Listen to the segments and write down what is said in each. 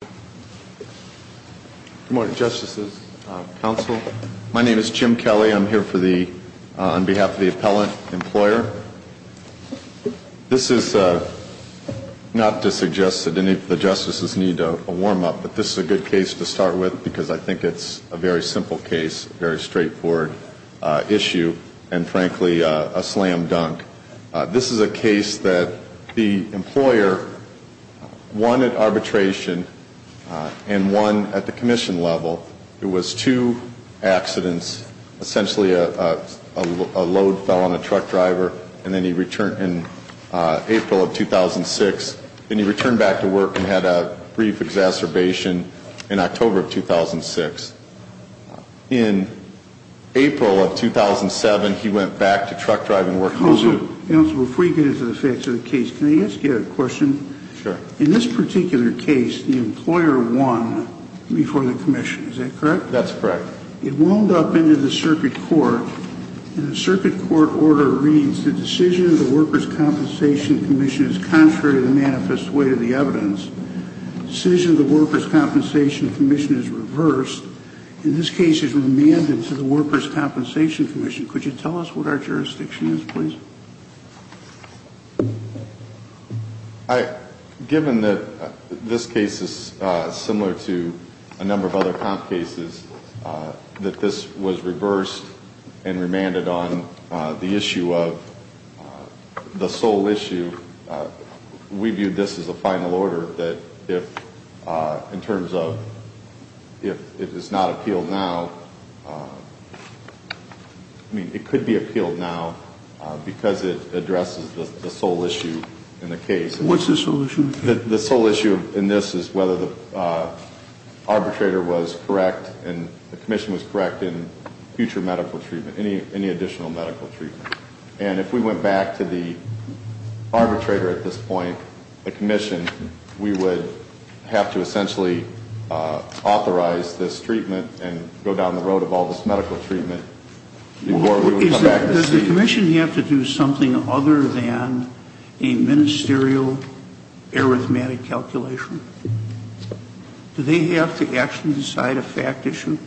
Good morning, Justices, Counsel. My name is Jim Kelly. I'm here on behalf of the Appellant Employer. This is not to suggest that any of the Justices need a warm-up, but this is a good case to start with because I think it's a very simple case, a very straightforward issue, and frankly, a slam dunk. This is a case that the employer, one at arbitration and one at the commission level, it was two accidents, essentially a load fell on a truck driver and then he returned in April of 2006, then he returned back to work and had a brief exacerbation in October of 2006. In April of 2007, he went back to truck drive and worked home. Counsel, before you get into the facts of the case, can I ask you a question? Sure. In this particular case, the employer won before the commission, is that correct? That's correct. It wound up into the circuit court and the circuit court order reads, the decision of the Workers' Compensation Commission is contrary to the manifest weight of the evidence. Decision of the Workers' Compensation Commission is reversed. In this case, it's remanded to the Workers' Compensation Commission. Could you tell us what our jurisdiction is, please? Given that this case is similar to a number of other comp cases, that this was reversed and remanded on the issue of the sole issue, we view this as a final order that if in terms of if it is not appealed now, I mean, it could be appealed now because it addresses the sole issue in the case. What's the sole issue? The sole issue in this is whether the arbitrator was correct and the commission was correct in future medical treatment, any additional medical treatment. And if we went back to the arbitrator at this point, the commission, we would have to essentially authorize this treatment and go down the road of all this medical treatment before we would come back to see Does the commission have to do something other than a ministerial arithmetic calculation? Do they have to actually decide a fact issue?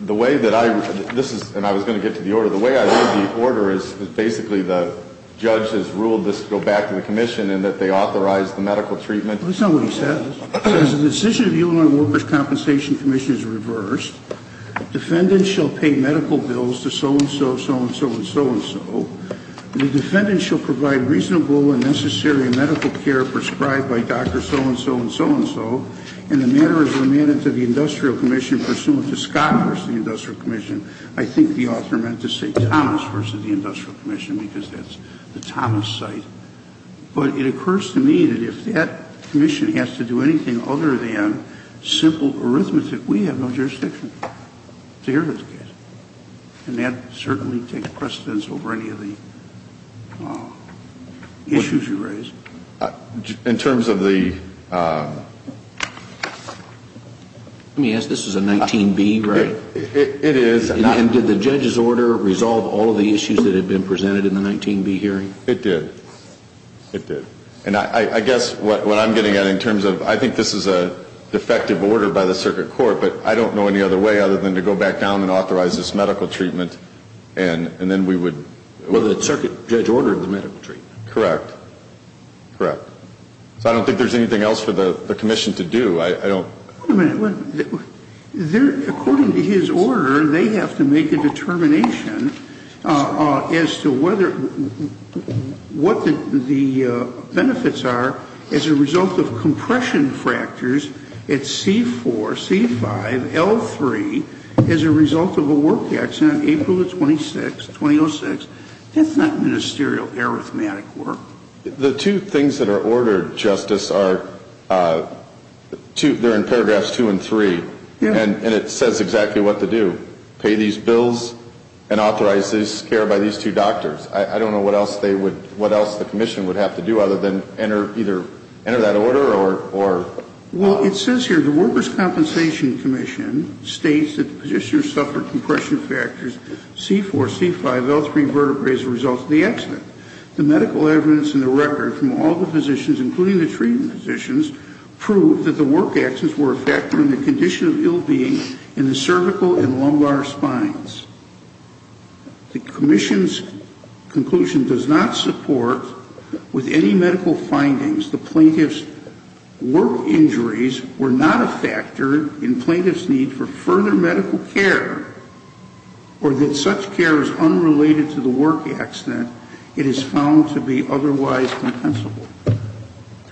The way that I, this is, and I was going to get to the order. The way I read the order is basically the judge has ruled this to go back to the commission and that they authorized the medical treatment. That's not what he says. He says the decision of the U.N. Workers' Compensation Commission is reversed. Defendants shall pay medical bills to so-and-so, so-and-so, and so-and-so. The defendant shall provide reasonable and necessary medical care prescribed by Dr. so-and-so, and so-and-so. And the matter is remanded to the industrial commission pursuant to Scott versus the industrial commission. I think the author meant to say Thomas versus the industrial commission because that's the Thomas site. But it occurs to me that if that commission has to do anything other than simple arithmetic, we have no jurisdiction to hear this case. And that certainly takes precedence over any of the issues you raised. In terms of the... Let me ask, this is a 19B, right? It is. And did the judge's order resolve all of the issues that had been presented in the 19B hearing? It did. It did. And I guess what I'm getting at in terms of, I think this is a defective order by the circuit court, but I don't know any other way other than to go back down and Well, the circuit judge ordered the medical treatment. Correct. Correct. So I don't think there's anything else for the commission to do. I don't... Wait a minute. According to his order, they have to make a determination as to whether what the benefits are as a result of compression fractures at C4, C5, L3 as a result of a compression fracture. That's not ministerial arithmetic work. The two things that are ordered, Justice, are in paragraphs 2 and 3. And it says exactly what to do. Pay these bills and authorize this care by these two doctors. I don't know what else the commission would have to do other than either enter that order or... Well, it says here, the Workers' Compensation Commission states that the petitioner suffered compression fractures C4, C5, L3 vertebrae as a result of the accident. The medical evidence in the record from all the physicians, including the treatment physicians, proved that the work accidents were a factor in the condition of ill-being in the cervical and lumbar spines. The commission's conclusion does not support with any medical findings the plaintiff's work injuries were not a factor in plaintiff's need for further medical care or that such care was unrelated to the work accident. It is found to be otherwise compensable.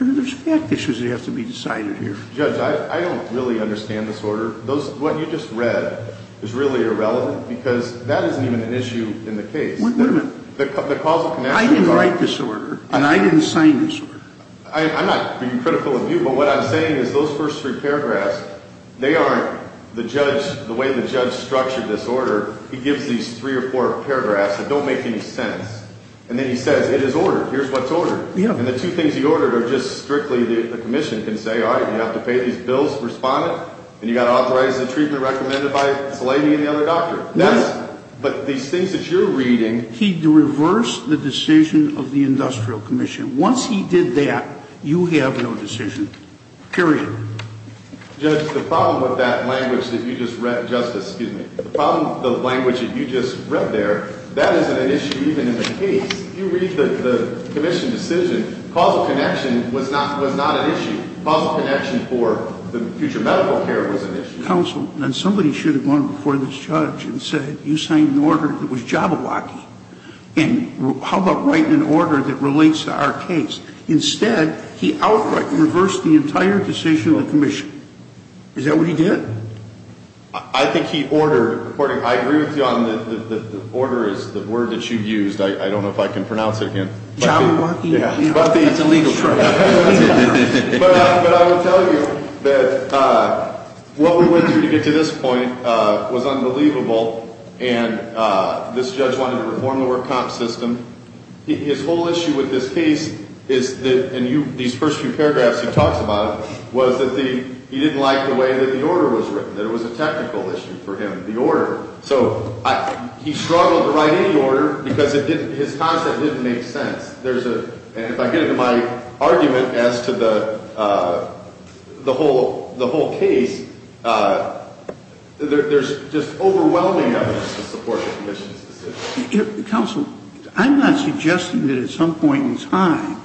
There's fact issues that have to be decided here. Judge, I don't really understand this order. What you just read is really irrelevant because that isn't even an issue in the case. Wait a minute. The causal connection... I didn't write this order and I didn't sign this order. I'm not being critical of you, but what I'm the way the judge structured this order, he gives these three or four paragraphs that don't make any sense. And then he says, it is ordered. Here's what's ordered. And the two things he ordered are just strictly the commission can say, all right, you have to pay these bills for responding and you've got to authorize the treatment recommended by this lady and the other doctor. But these things that you're reading... He reversed the decision of the industrial commission. Once he did that, you have no decision, period. Judge, the problem with that language that you just read... Justice, excuse me. The problem with the language that you just read there, that isn't an issue even in the case. If you read the commission decision, causal connection was not an issue. Causal connection for the future medical care was an issue. Counsel, then somebody should have gone before this judge and said, you signed an order that was jabberwocky. And how about writing an order that relates to our case? Instead, he reversed the entire decision of the commission. Is that what he did? I think he ordered according... I agree with you on the order is the word that you used. I don't know if I can pronounce it again. Jabberwocky? Yeah. That's a legal term. But I will tell you that what we went through to get to this point was unbelievable. And this judge wanted to reform the work comp system. His whole issue with this case is that, and these first few paragraphs he talks about, was that he didn't like the way that the order was written, that it was a technical issue for him, the order. So he struggled to write any order because his concept didn't make sense. And if I get into my argument as to the whole case, there's just overwhelming evidence to support the commission's decision. Counsel, I'm not suggesting that at some point in time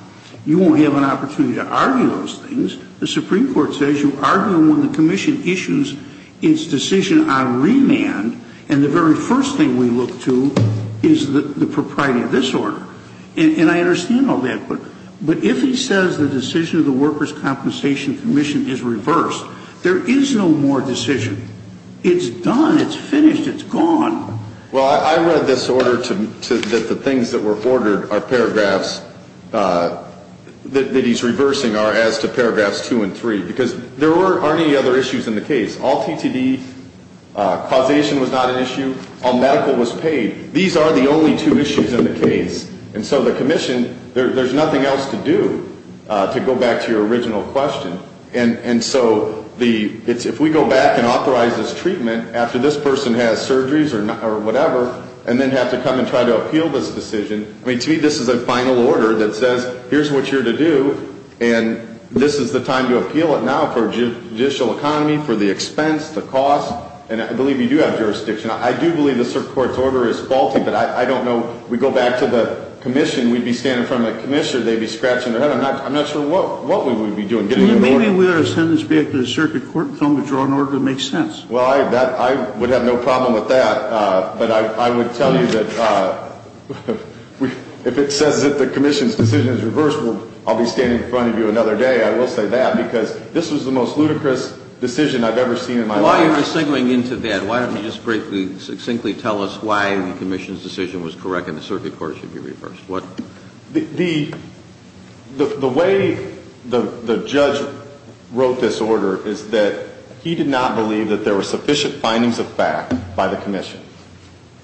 you won't have an opportunity to argue those things. The Supreme Court says you argue when the commission issues its decision on remand, and the very first thing we look to is the propriety of this order. And I understand all that. But if he says the decision of the Workers' Compensation Commission is reversed, there is no more decision. It's done. It's finished. It's gone. Well, I read this order that the things that were ordered are paragraphs that he's reversing are as to paragraphs 2 and 3. Because there aren't any other issues in the case. All TTD causation was not an issue. All medical was paid. These are the only two issues in the case. And so the commission, there's nothing else to do, to go back to your original question. And so if we go back and authorize this treatment after this person has surgeries or whatever, and then have to come and try to appeal this decision, to me this is a final order that says here's what you're to do, and this is the time to appeal it now for judicial economy, for the expense, the cost. And I believe you do have jurisdiction. I do believe the Supreme Court's order is faulty, but I don't know. We go back to the commission, we'd be standing in front of the commissioner, they'd be scratching their head. I'm not sure what we would be doing. Maybe we ought to send this back to the circuit court and tell them to draw an order that makes sense. Well, I would have no problem with that, but I would tell you that if it says that the commission's decision is reversed, I'll be standing in front of you another day, I will say that, because this was the most ludicrous decision I've ever seen in my life. While you're signaling into that, why don't you just briefly, succinctly tell us why the commission's decision was correct and the circuit court should be reversed. The way the judge wrote this order is that he did not believe that there were sufficient findings of fact by the commission.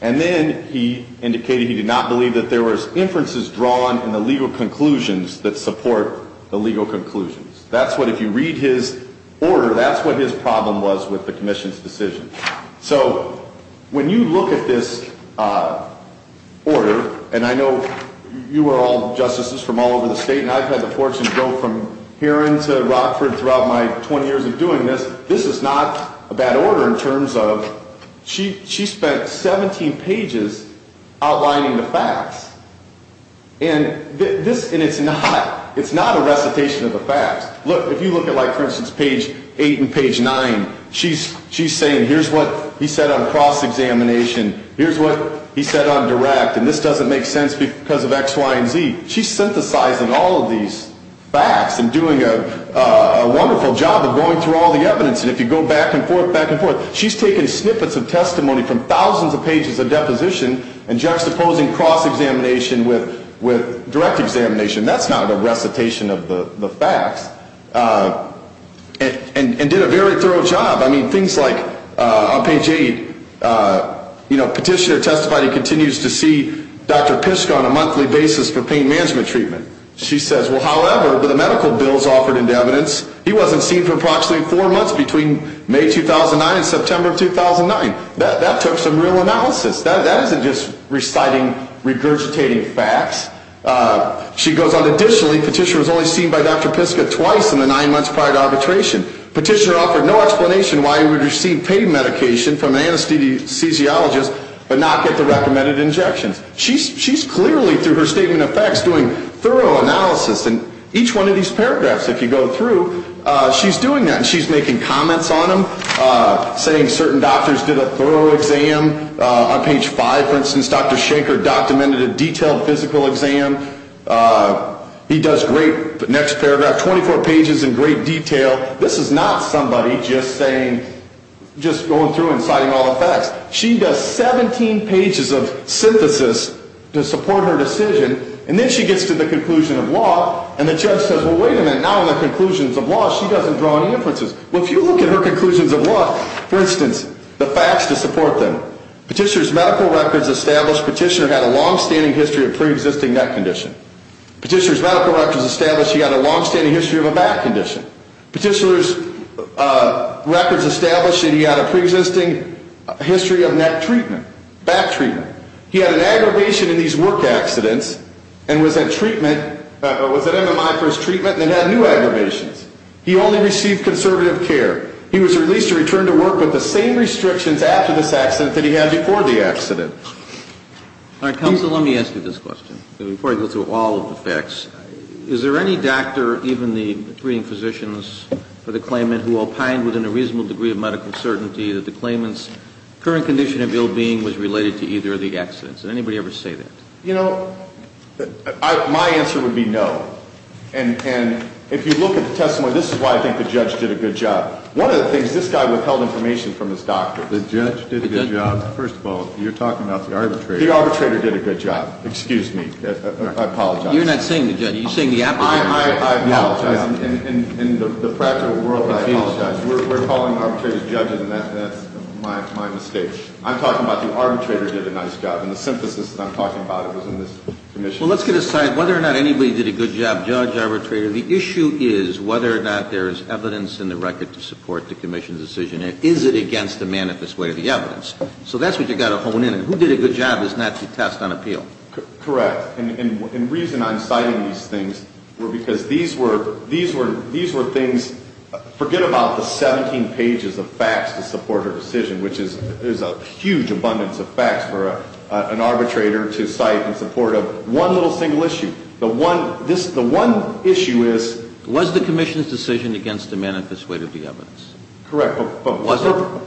And then he indicated he did not believe that there was inferences drawn in the legal conclusions that support the legal conclusions. That's what, if you read his order, that's what his problem was with the commission's decision. So, when you look at this order, and I know you are all justices from all over the state and I've had the fortune to go from herein to Rockford throughout my 20 years of doing this, this is not a bad order in terms of, she spent 17 pages outlining the facts. And this, and it's not, it's not a recitation of the facts. Look, if you look at like, for example, she's saying here's what he said on cross-examination, here's what he said on direct, and this doesn't make sense because of X, Y, and Z. She's synthesizing all of these facts and doing a wonderful job of going through all the evidence. And if you go back and forth, back and forth, she's taking snippets of testimony from thousands of pages of deposition and juxtaposing cross-examination with direct examination. That's not a recitation of the facts. On page 8, you know, petitioner testified he continues to see Dr. Piska on a monthly basis for pain management treatment. She says, well, however, the medical bills offered in evidence, he wasn't seen for approximately four months between May 2009 and September 2009. That took some real analysis. That isn't just reciting regurgitating facts. She goes on, additionally, petitioner was only seen by Dr. Piska twice in the nine months prior to arbitration. Petitioner offered no explanation why he would receive pain medication from an anesthesiologist but not get the recommended injections. She's clearly, through her statement of facts, doing thorough analysis. And each one of these paragraphs, if you go through, she's doing that. And she's making comments on them, saying certain doctors did a thorough exam. On page 5, for instance, Dr. Shanker documented a detailed physical exam. He does great, the next paragraph, 24 pages in great detail. This is not somebody just saying, just going through and citing all the facts. She does 17 pages of synthesis to support her decision, and then she gets to the conclusion of law, and the judge says, well, wait a minute, now in the conclusions of law, she doesn't draw any inferences. Well, if you look at her conclusions of law, for instance, the facts to support them. Petitioner's medical records establish petitioner had a longstanding history of preexisting that condition. Petitioner's medical records establish he had a longstanding history of a back condition. Petitioner's records establish that he had a preexisting history of neck treatment, back treatment. He had an aggravation in these work accidents and was at treatment, was at MMI for his treatment and then had new aggravations. He only received conservative care. He was released to return to work with the same restrictions after this accident that he had before the accident. All right, counsel, let me ask you this question before I go through all of the facts. Is there any doctor, even the treating physicians for the claimant, who opined within a reasonable degree of medical certainty that the claimant's current condition of ill-being was related to either of the accidents? Did anybody ever say that? You know, my answer would be no. And if you look at the testimony, this is why I think the judge did a good job. One of the things, this guy withheld information from his doctor. The judge did a good job. First of all, you're talking about the arbitrator. The arbitrator did a good job. Excuse me. I apologize. You're not saying the judge. You're saying the applicant. I apologize. In the practical world, I apologize. We're calling arbitrators judges and that's my mistake. I'm talking about the arbitrator did a nice job. And the synthesis that I'm talking about was in this commission. Well, let's get aside whether or not anybody did a good job, judge, arbitrator. The issue is whether or not there is evidence in the record to support the commission's decision. Is it against the manifest way of the evidence? So that's what you've got to hone in on. Who did a good job is not to test on appeal. Correct. And the reason I'm citing these things were because these were things, forget about the 17 pages of facts to support a decision, which is a huge abundance of facts for an arbitrator to cite in support of one little single issue. The one issue is. Was the commission's decision against the manifest way of the evidence? Correct. But was it?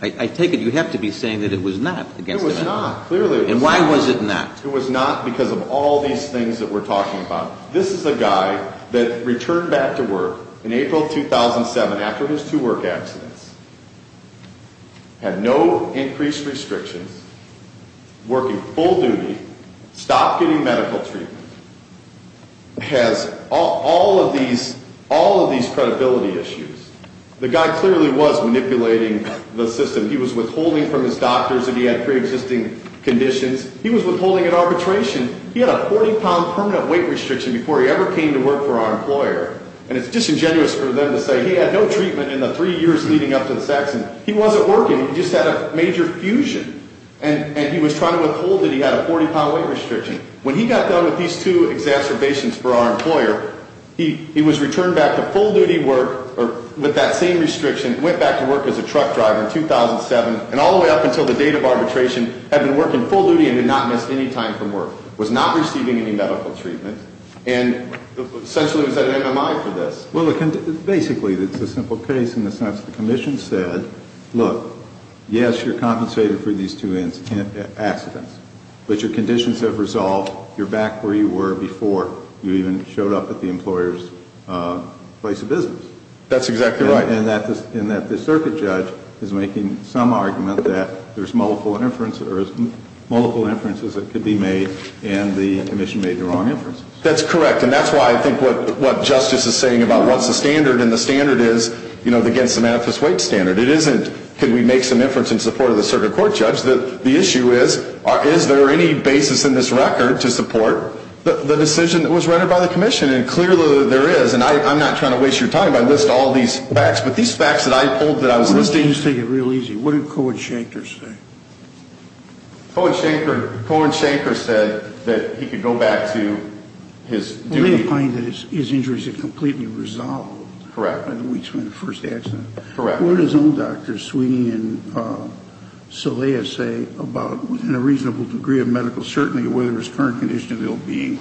I take it you have to be saying that it was not against the evidence. It was not. Clearly it was not. And why was it not? It was not because of all these things that we're talking about. This is a guy that returned back to work in April 2007 after his two work accidents, had no increased restrictions, working full duty, stopped getting medical treatment, has all of these credibility issues. The guy clearly was manipulating the system. He was withholding from his doctors that he had pre-existing conditions. He was withholding an arbitration. He had a 40 pound permanent weight restriction before he ever came to work for our employer. And it's disingenuous for them to say he had no treatment in the three years leading up to the accident. He wasn't working. He just had a major fusion. And he was trying to withhold that he had a 40 pound weight restriction. When he got done with these two exacerbations for our employer, he was returned back to full duty work with that same restriction, went back to work as a truck driver in 2007, and all the way up until the date of arbitration, had been working full duty and did not miss any time from work, was not receiving any medical treatment, and essentially was at an MMI for this. Well, basically, it's a simple case in the sense that the Commission said, look, yes, you're compensated for these two accidents, but your conditions have resolved. You're back where you were before you even showed up at the employer's place of business. That's exactly right. And that the circuit judge is making some argument that there's multiple inferences that could be made, and the Commission made the wrong inferences. That's correct. And that's why I think what Justice is saying about what's the standard, and the standard is, you know, the against the manifest weight standard. It isn't could we make some inference in support of the circuit court judge. The issue is, is there any basis in this record to support the decision that was rendered by the Commission? And clearly there is. And I'm not trying to waste your time. I list all these facts. But these facts that I pulled that I was listing... Let me just take it real easy. What did Cohen-Shanker say? Cohen-Shanker... Cohen-Shanker said that he could go back to his duty... Well, he defined that his injuries had completely resolved... Correct. ...by the first accident. Correct. What did his own doctors, Sweeney and Saleha, say about, in a reasonable degree of medical certainty, whether his current condition of ill-being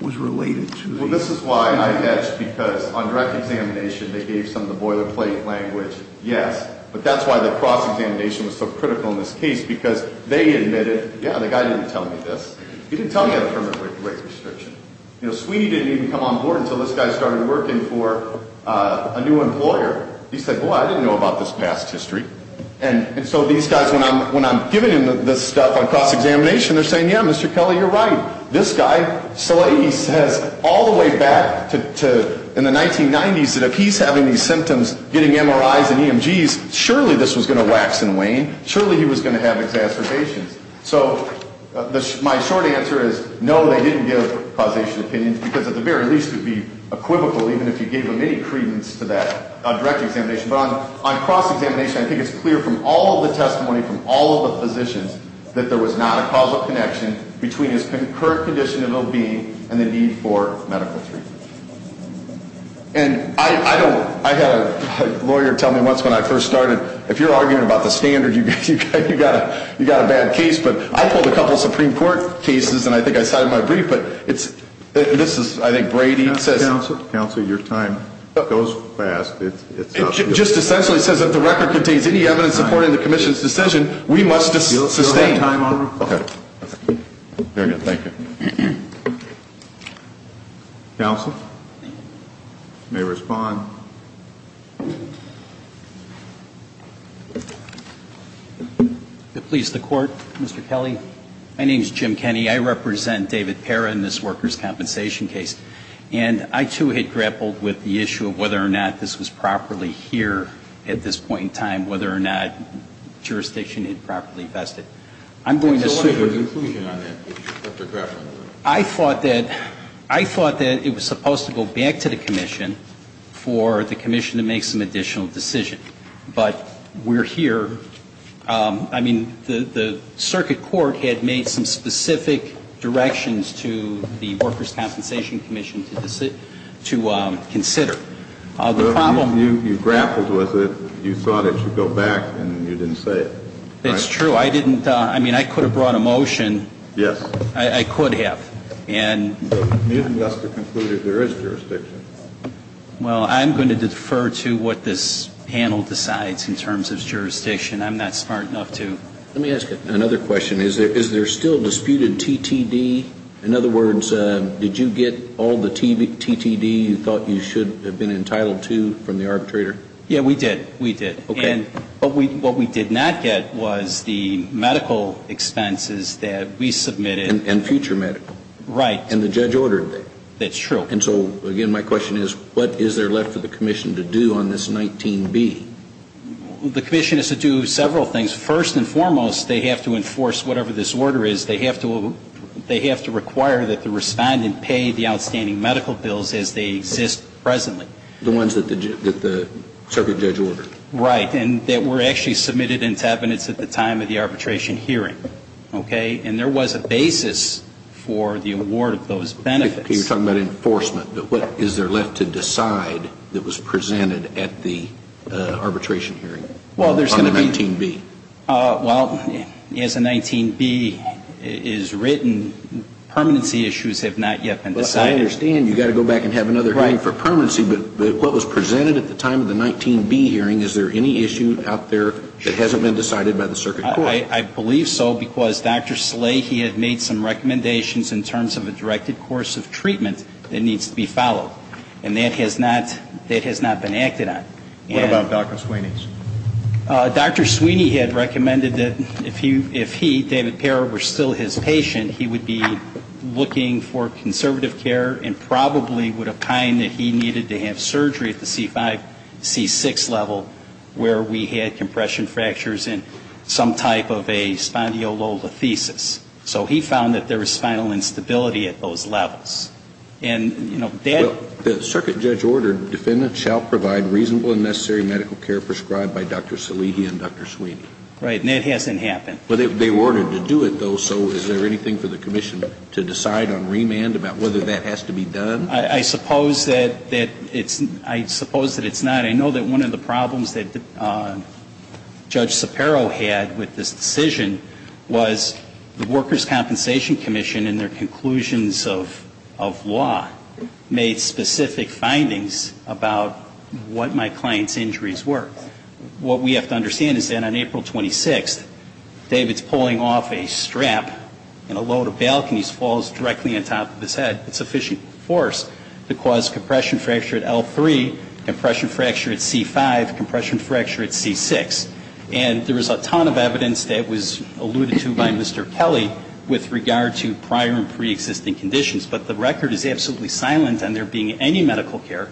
was related to the... Well, this is why I hedged, because on direct examination they gave some of the boilerplate language, yes. But that's why the cross-examination was so critical in this case, because they admitted, yeah, the guy didn't tell me this. He didn't tell me I had a permanent weight restriction. You know, Sweeney didn't even come on board until this guy started working for a new employer. He said, boy, I didn't know about this past history. And so these guys, when I'm giving them this stuff on cross-examination, they're saying, yeah, Mr. Kelly, you're right. This guy, Saleha, he says all the way back to in the 1990s that if he's having these MRIs and EMGs, surely this was going to wax and wane. Surely he was going to have exacerbations. So my short answer is, no, they didn't give causation opinions, because at the very least it would be equivocal even if you gave them any credence to that on direct examination. But on cross-examination, I think it's clear from all of the testimony from all of the physicians that there was not a causal connection between his current condition of ill-being and the need for medical treatment. And I had a lawyer tell me once when I first started, if you're arguing about the standard, you've got a bad case. But I pulled a couple of Supreme Court cases, and I think I cited my brief. But this is, I think, Brady says... Counsel, your time goes fast. It's... It just essentially says that if the record contains any evidence supporting the Commission's decision, we must sustain. Your time, Your Honor. Very good. Thank you. Counsel? You may respond. If it pleases the Court, Mr. Kelly, my name is Jim Kenney. I represent David Parra in this workers' compensation case. And I, too, had grappled with the issue of whether or not this was properly here at this point in time, whether or not jurisdiction had properly been infested. I'm going to say... So what is your conclusion on that? I thought that it was supposed to go back to the Commission for the Commission to make some additional decision. But we're here. I mean, the Circuit Court had made some specific directions to the Workers' Compensation Commission to consider. The problem... You grappled with it. You thought it should go back, and you didn't say it. It's true. I didn't... I mean, I could have brought a motion. Yes. I could have. And... You didn't ask to conclude if there is jurisdiction. Well, I'm going to defer to what this panel decides in terms of jurisdiction. I'm not smart enough to... Let me ask you another question. Is there still disputed TTD? In other words, did you get all the TTD you thought you should have been entitled to from the arbitrator? Yeah, we did. We did. Okay. And what we did not get was the medical expenses that we submitted... And future medical. Right. And the judge ordered that. That's true. And so, again, my question is, what is there left for the Commission to do on this 19B? The Commission has to do several things. First and foremost, they have to enforce whatever this order is. They have to require that the respondent pay the outstanding medical bills as they exist presently. The ones that the circuit judge ordered. Right. And that were actually submitted in tabinets at the time of the arbitration hearing. Okay? And there was a basis for the award of those benefits. You're talking about enforcement, but what is there left to decide that was presented at the arbitration hearing on the 19B? Well, as the 19B is written, permanency issues have not yet been decided. I understand you've got to go back and have another hearing for permanency, but what was presented at the time of the 19B hearing, is there any issue out there that hasn't been decided by the circuit court? I believe so, because Dr. Slahey had made some recommendations in terms of a directed course of treatment that needs to be followed. And that has not been acted on. What about Dr. Sweeney's? Dr. Sweeney had recommended that if he, David Parra, were still his patient, he probably would have opined that he needed to have surgery at the C5, C6 level where we had compression fractures and some type of a spondylolisthesis. So he found that there was spinal instability at those levels. The circuit judge ordered defendants shall provide reasonable and necessary medical care prescribed by Dr. Slahey and Dr. Sweeney. Right. And that hasn't happened. They ordered to do it, though, so is there anything for the commission to do that has to be done? I suppose that it's not. I know that one of the problems that Judge Sapero had with this decision was the Workers' Compensation Commission in their conclusions of law made specific findings about what my client's injuries were. What we have to understand is that on April 26th, David's pulling off a strap and a load of balconies falls directly on top of his head. It's sufficient force to cause compression fracture at L3, compression fracture at C5, compression fracture at C6. And there is a ton of evidence that was alluded to by Mr. Kelly with regard to prior and preexisting conditions. But the record is absolutely silent on there being any medical care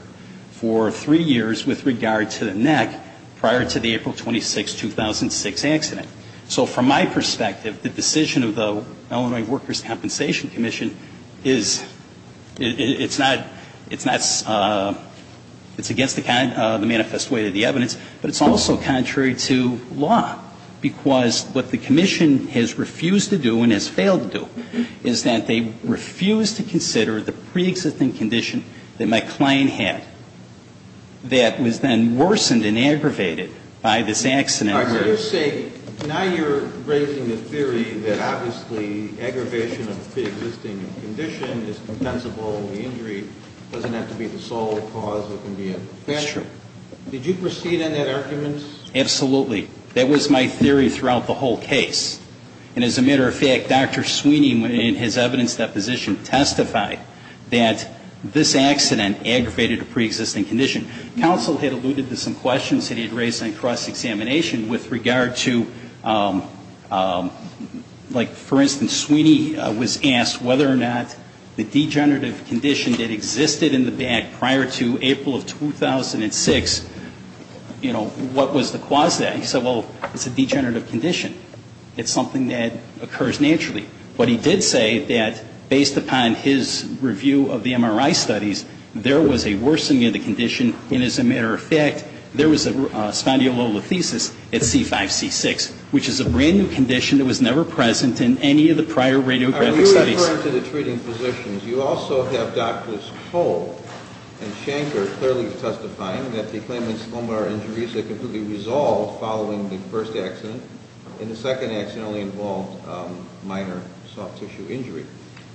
for three years with regard to the neck prior to the April 26, 2006 accident. So from my perspective, the decision of the Illinois Workers' Compensation Commission is, it's not, it's not, it's against the manifest way of the evidence, but it's also contrary to law. Because what the commission has refused to do and has failed to do is that they refused to consider the preexisting condition that my client had that was then worsened and aggravated by this accident. Now you're raising the theory that obviously aggravation of a preexisting condition is compensable, the injury doesn't have to be the sole cause that can be a factor. That's true. Did you proceed on that argument? Absolutely. That was my theory throughout the whole case. And as a matter of fact, Dr. Sweeney in his evidence deposition testified that this accident aggravated a preexisting condition. Counsel had alluded to some of that in his last examination with regard to, like, for instance, Sweeney was asked whether or not the degenerative condition that existed in the back prior to April of 2006, you know, what was the cause of that. He said, well, it's a degenerative condition. It's something that occurs naturally. But he did say that based upon his review of the MRI studies, there was a condition that was never present in any of the prior radiographic studies. Are you referring to the treating physicians? You also have Drs. Cole and Shanker clearly testifying that the claimant's lumbar injuries are completely resolved following the first accident. And the second accident only involved minor soft tissue injury.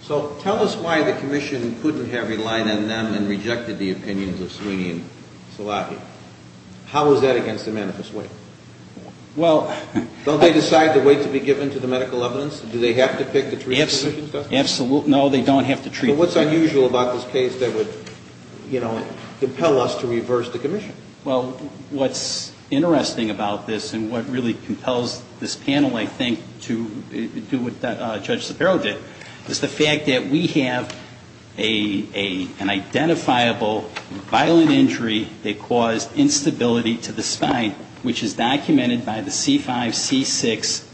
So tell us why the commission couldn't have relied on them and rejected the opinions of Sweeney and Szilagyi. How was that against the claimant? following the first accident. And the second accident only involved minor soft tissue injury. How was that against the claimant? Well... Don't they decide the weight to be given to the medical evidence? Do they have to pick the treating physicians? Absolutely. No, they don't have to treat the physicians. But what's unusual about this case that would, you know, compel us to reverse the commission? Well, what's interesting about this and what really compels this panel, I think, to do what Judge Shapiro did, is the fact that we have an identifiable violent injury that caused instability to the spine and which is documented by the C5, C6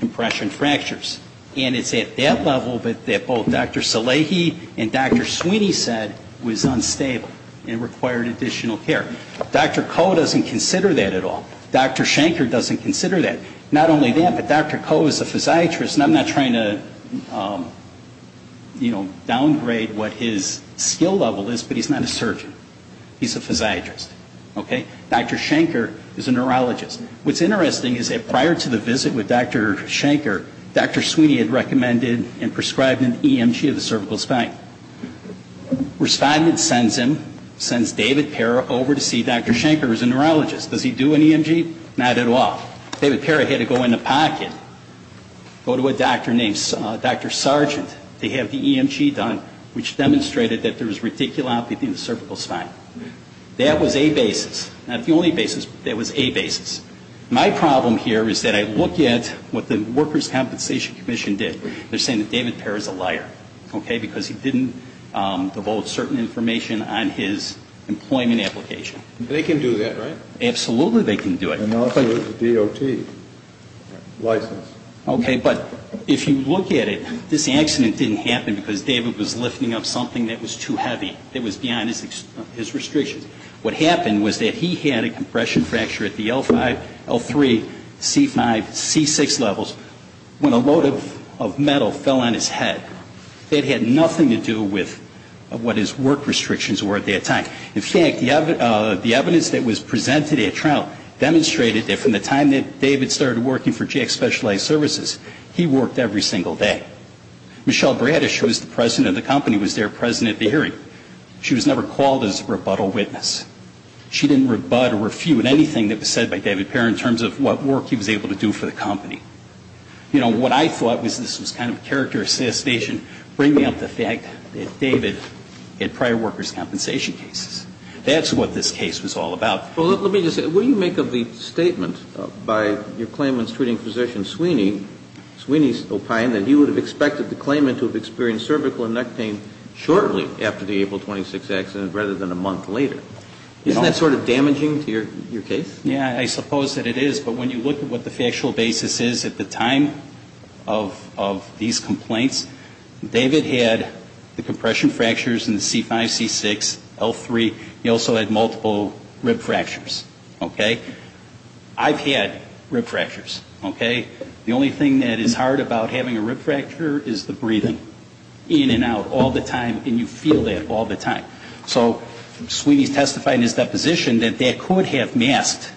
compression fractures. And it's at that level that both Dr. Szilagyi and Dr. Sweeney said was unstable and required additional care. Dr. Koh doesn't consider that at all. Dr. Shanker doesn't consider that. Not only that, but Dr. Koh is a physiatrist and I'm not trying to, you know, downgrade what his skill level is, but he's not a surgeon. He's a physiatrist. Okay? Dr. Shanker is a neurologist. What's interesting is that prior to the visit with Dr. Shanker, Dr. Sweeney had recommended and prescribed an EMG of the cervical spine. Respondent sends him, sends David Parra over to see Dr. Shanker, who's a neurologist. Does he do an EMG? Not at all. David Parra had to go in the pocket, go to a doctor named Dr. Sargent to have the EMG done, which demonstrated that there was reticulopathy in the cervical spine. That was a basis. Not the only basis, but that was a basis. My problem here is that I look at what the Workers' Compensation Commission did. They're saying that David Parra's a liar. Okay? Because he didn't devote certain information on his employment application. They can do that, right? Absolutely they can do it. And they'll tell you it's a DOT license. Okay, but if you look at it, this accident didn't happen because David was lifting up something that was too heavy, that was beyond his restrictions. What happened was that he had a compression fracture at the L5, L3, C5, C6 levels when a load of metal fell on his head. That had nothing to do with what his work restrictions were at that time. In fact, the evidence that was presented at trial demonstrated that from the time that David started working for Jack's Specialized Services, he worked every single day. Michelle Bradish, who was the president of the company, was their president at the hearing. She was never called as a rebuttal witness. She didn't rebut or refute anything that was said by David Parra in terms of what work he was able to do for the company. You know, what I thought was this was kind of character assassination bringing up the fact that David had prior workers' compensation cases. That's what this case was all about. Well, let me just say, what do you make of the statement by your claimant's treating physician Sweeney, Sweeney's opine that he would have expected the claimant to have experienced cervical and neck pain shortly after the April 26th accident rather than a month later? Isn't that sort of damaging to your case? Yeah, I suppose that it is. But when you look at what the factual basis is at the time of these complaints, David had the compression fractures in the C5, C6, L3. He also had multiple rib fractures. Okay? I've had rib fractures. Okay? The only thing that is hard about having a rib fracture is the breathing in and out all the time. And you feel that all the time. So Sweeney testified in his deposition that that could have masked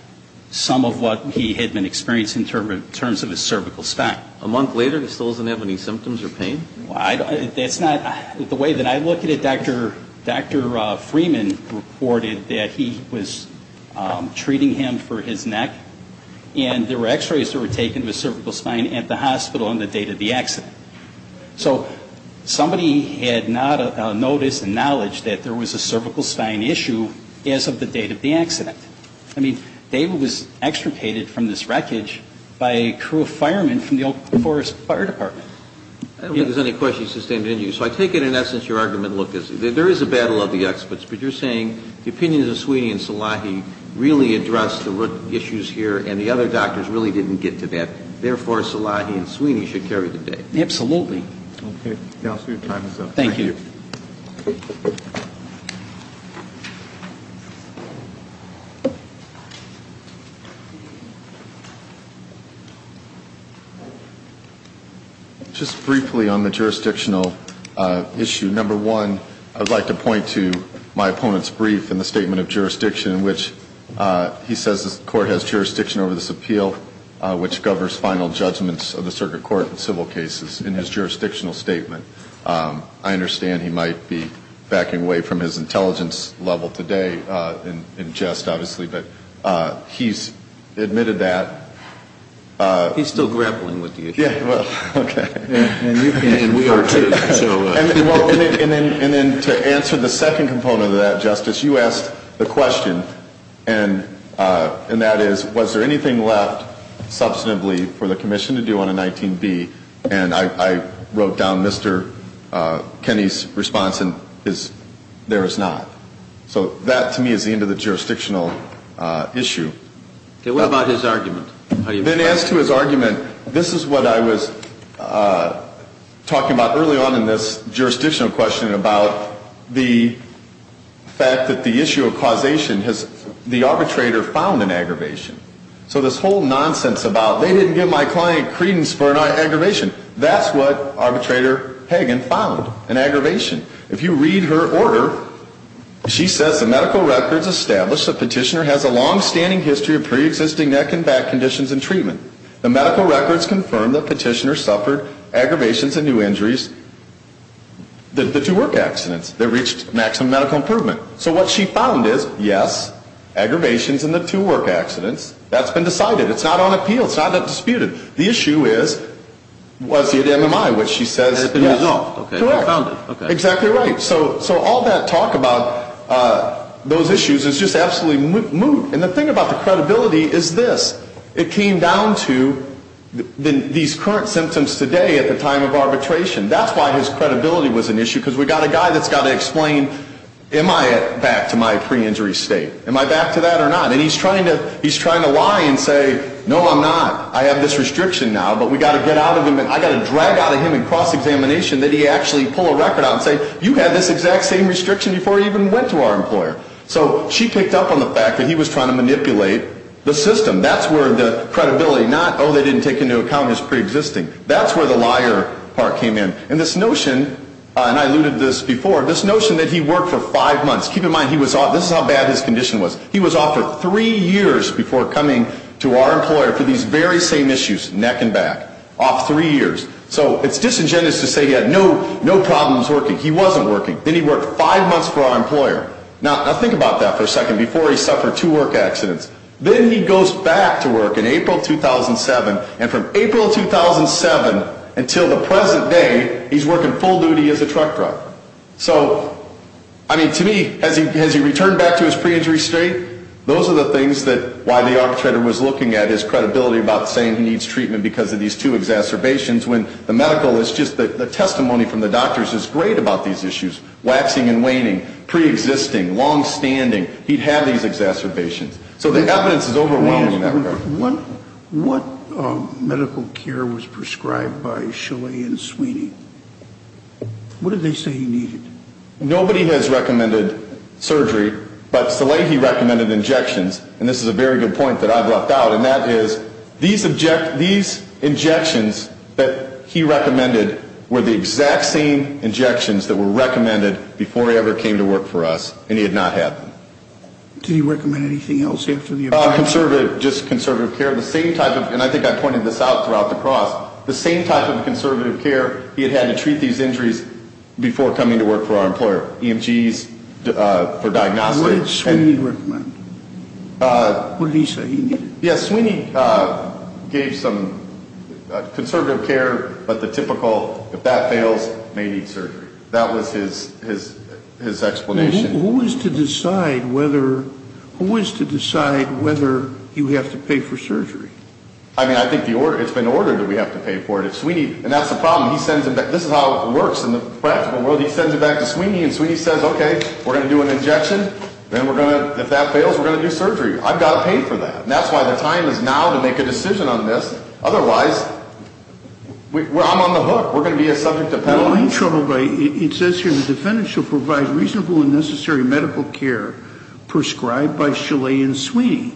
some of what he had been experiencing in terms of his cervical spine. A month later and he still doesn't have any symptoms or pain? That's not the way that I look at it. Dr. Freeman reported that he was treating him for his neck. And there were x-rays that were taken of his cervical spine at the hospital on the date of the accident. So somebody had not noticed and knowledge that there was a cervical spine issue as of the date of the accident. I mean, David was extricated from this wreckage by a crew of firemen from the Oak Forest Fire Department. I don't think there's any questions sustained in you. So I take it in essence your argument looked as if there is a battle of the experts, but you're saying the opinions of Sweeney and Salahi really addressed the root issues here and the other doctors really didn't get to that. Therefore, Salahi and Sweeney should carry the day. Absolutely. Okay. Your time is up. Thank you. Thank you. Just briefly on the jurisdictional issue. Number one, I would like to point to my opponent's brief in the statement of jurisdiction in which he says the court has jurisdiction over this appeal, which covers final judgments of the circuit court and civil cases in his jurisdictional statement. I understand he might be backing away from his intelligence level today in jest, obviously, but he's admitted that. He's still grappling with the issue. Okay. And we are too. And then to answer the second component of that, Justice, you asked the question, and that is, was there anything left substantively for the commission to do on a 19B? And I wrote down Mr. Kenney's response, and there is not. So that, to me, is the end of the jurisdictional issue. Okay. What about his argument? I've been asked to his argument. This is what I was talking about early on in this jurisdictional question about the fact that the issue of causation has, the arbitrator found an aggravation. So this whole nonsense about they didn't give my client credence for an aggravation, that's what arbitrator Hagen found, an aggravation. If you read her order, she says the medical records establish the petitioner has a longstanding history of preexisting neck and back conditions and treatment. The medical records confirm the petitioner suffered aggravations and two injuries, the two work accidents that reached maximum medical improvement. So what she found is, yes, aggravations in the two work accidents. That's been decided. It's not on appeal. It's not disputed. The issue is, was it MMI, which she says, yes. Correct. Exactly right. So all that talk about those issues is just absolutely moot. And the thing about the credibility is this. It came down to these current symptoms today at the time of arbitration. That's why his credibility was an issue. Because we've got a guy that's got to explain, am I back to my pre-injury state? Am I back to that or not? And he's trying to lie and say, no, I'm not. I have this restriction now, but we've got to get out of him. I've got to drag out of him in cross-examination that he actually pull a record out and say, you had this exact same restriction before you even went to our employer. So she picked up on the fact that he was trying to manipulate the credibility. Not, oh, they didn't take into account his pre-existing. That's where the liar part came in. And this notion, and I alluded to this before, this notion that he worked for five months. Keep in mind, this is how bad his condition was. He was off for three years before coming to our employer for these very same issues, neck and back. Off three years. So it's disingenuous to say he had no problems working. He wasn't working. Then he worked five months for our employer. Now, think about that for a second. Before, he suffered two work accidents. Then he goes back to work in April 2007, and from April 2007 until the present day, he's working full duty as a truck driver. So, I mean, to me, has he returned back to his pre-injury state? Those are the things that, why the arbitrator was looking at his credibility about saying he needs treatment because of these two exacerbations, when the medical is just, the testimony from the doctors is great about these issues. Waxing and waning. Pre-existing. Long-standing. He'd have these exacerbations. So the evidence is overwhelming in that regard. Wait a second. What medical care was prescribed by Shillay and Sweeney? What did they say he needed? Nobody has recommended surgery, but Shillay, he recommended injections, and this is a very good point that I've left out, and that is, these injections that he recommended were the exact same injections that were recommended before he ever came to work for us, and he had not had them. Did he recommend anything else after the appointment? Conservative. Just conservative care. The same type of, and I think I pointed this out throughout the cross, the same type of conservative care he had had to treat these injuries before coming to work for our employer. EMGs for diagnosis. What did Sweeney recommend? What did he say he needed? Yes, Sweeney gave some conservative care, but the typical, if that fails, may need surgery. That was his explanation. Who is to decide whether you have to pay for surgery? I mean, I think it's been ordered that we have to pay for it. If Sweeney, and that's the problem, this is how it works in the practical world, he sends it back to Sweeney, and Sweeney says, okay, we're going to do an injection, and if that fails, we're going to do surgery. I've got to pay for that. And that's why the time is now to make a decision on this. Otherwise, I'm on the hook. We're going to be a subject of penalty. It says here the defendant shall provide reasonable and necessary medical care prescribed by Chalet and Sweeney.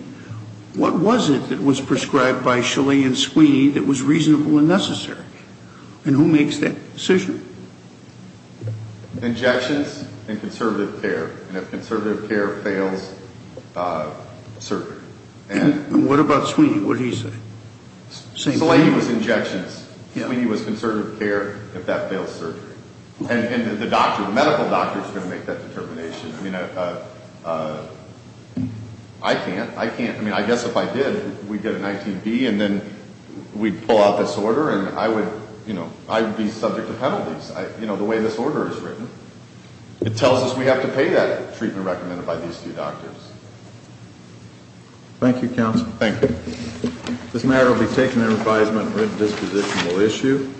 What was it that was prescribed by Chalet and Sweeney that was reasonable and necessary? And who makes that decision? Injections and conservative care. And if conservative care fails, surgery. And what about Sweeney, what did he say? Sweeney was injections. Sweeney was conservative care if that fails, surgery. And the doctor, the medical doctor is going to make that determination. I mean, I can't. I can't. I mean, I guess if I did, we'd get an ITB, and then we'd pull out this order, and I would, you know, I would be subject to penalties. You know, the way this order is written. It tells us we have to pay that treatment recommended by these two doctors. Thank you, counsel. Thank you. This matter will be taken under advisement and written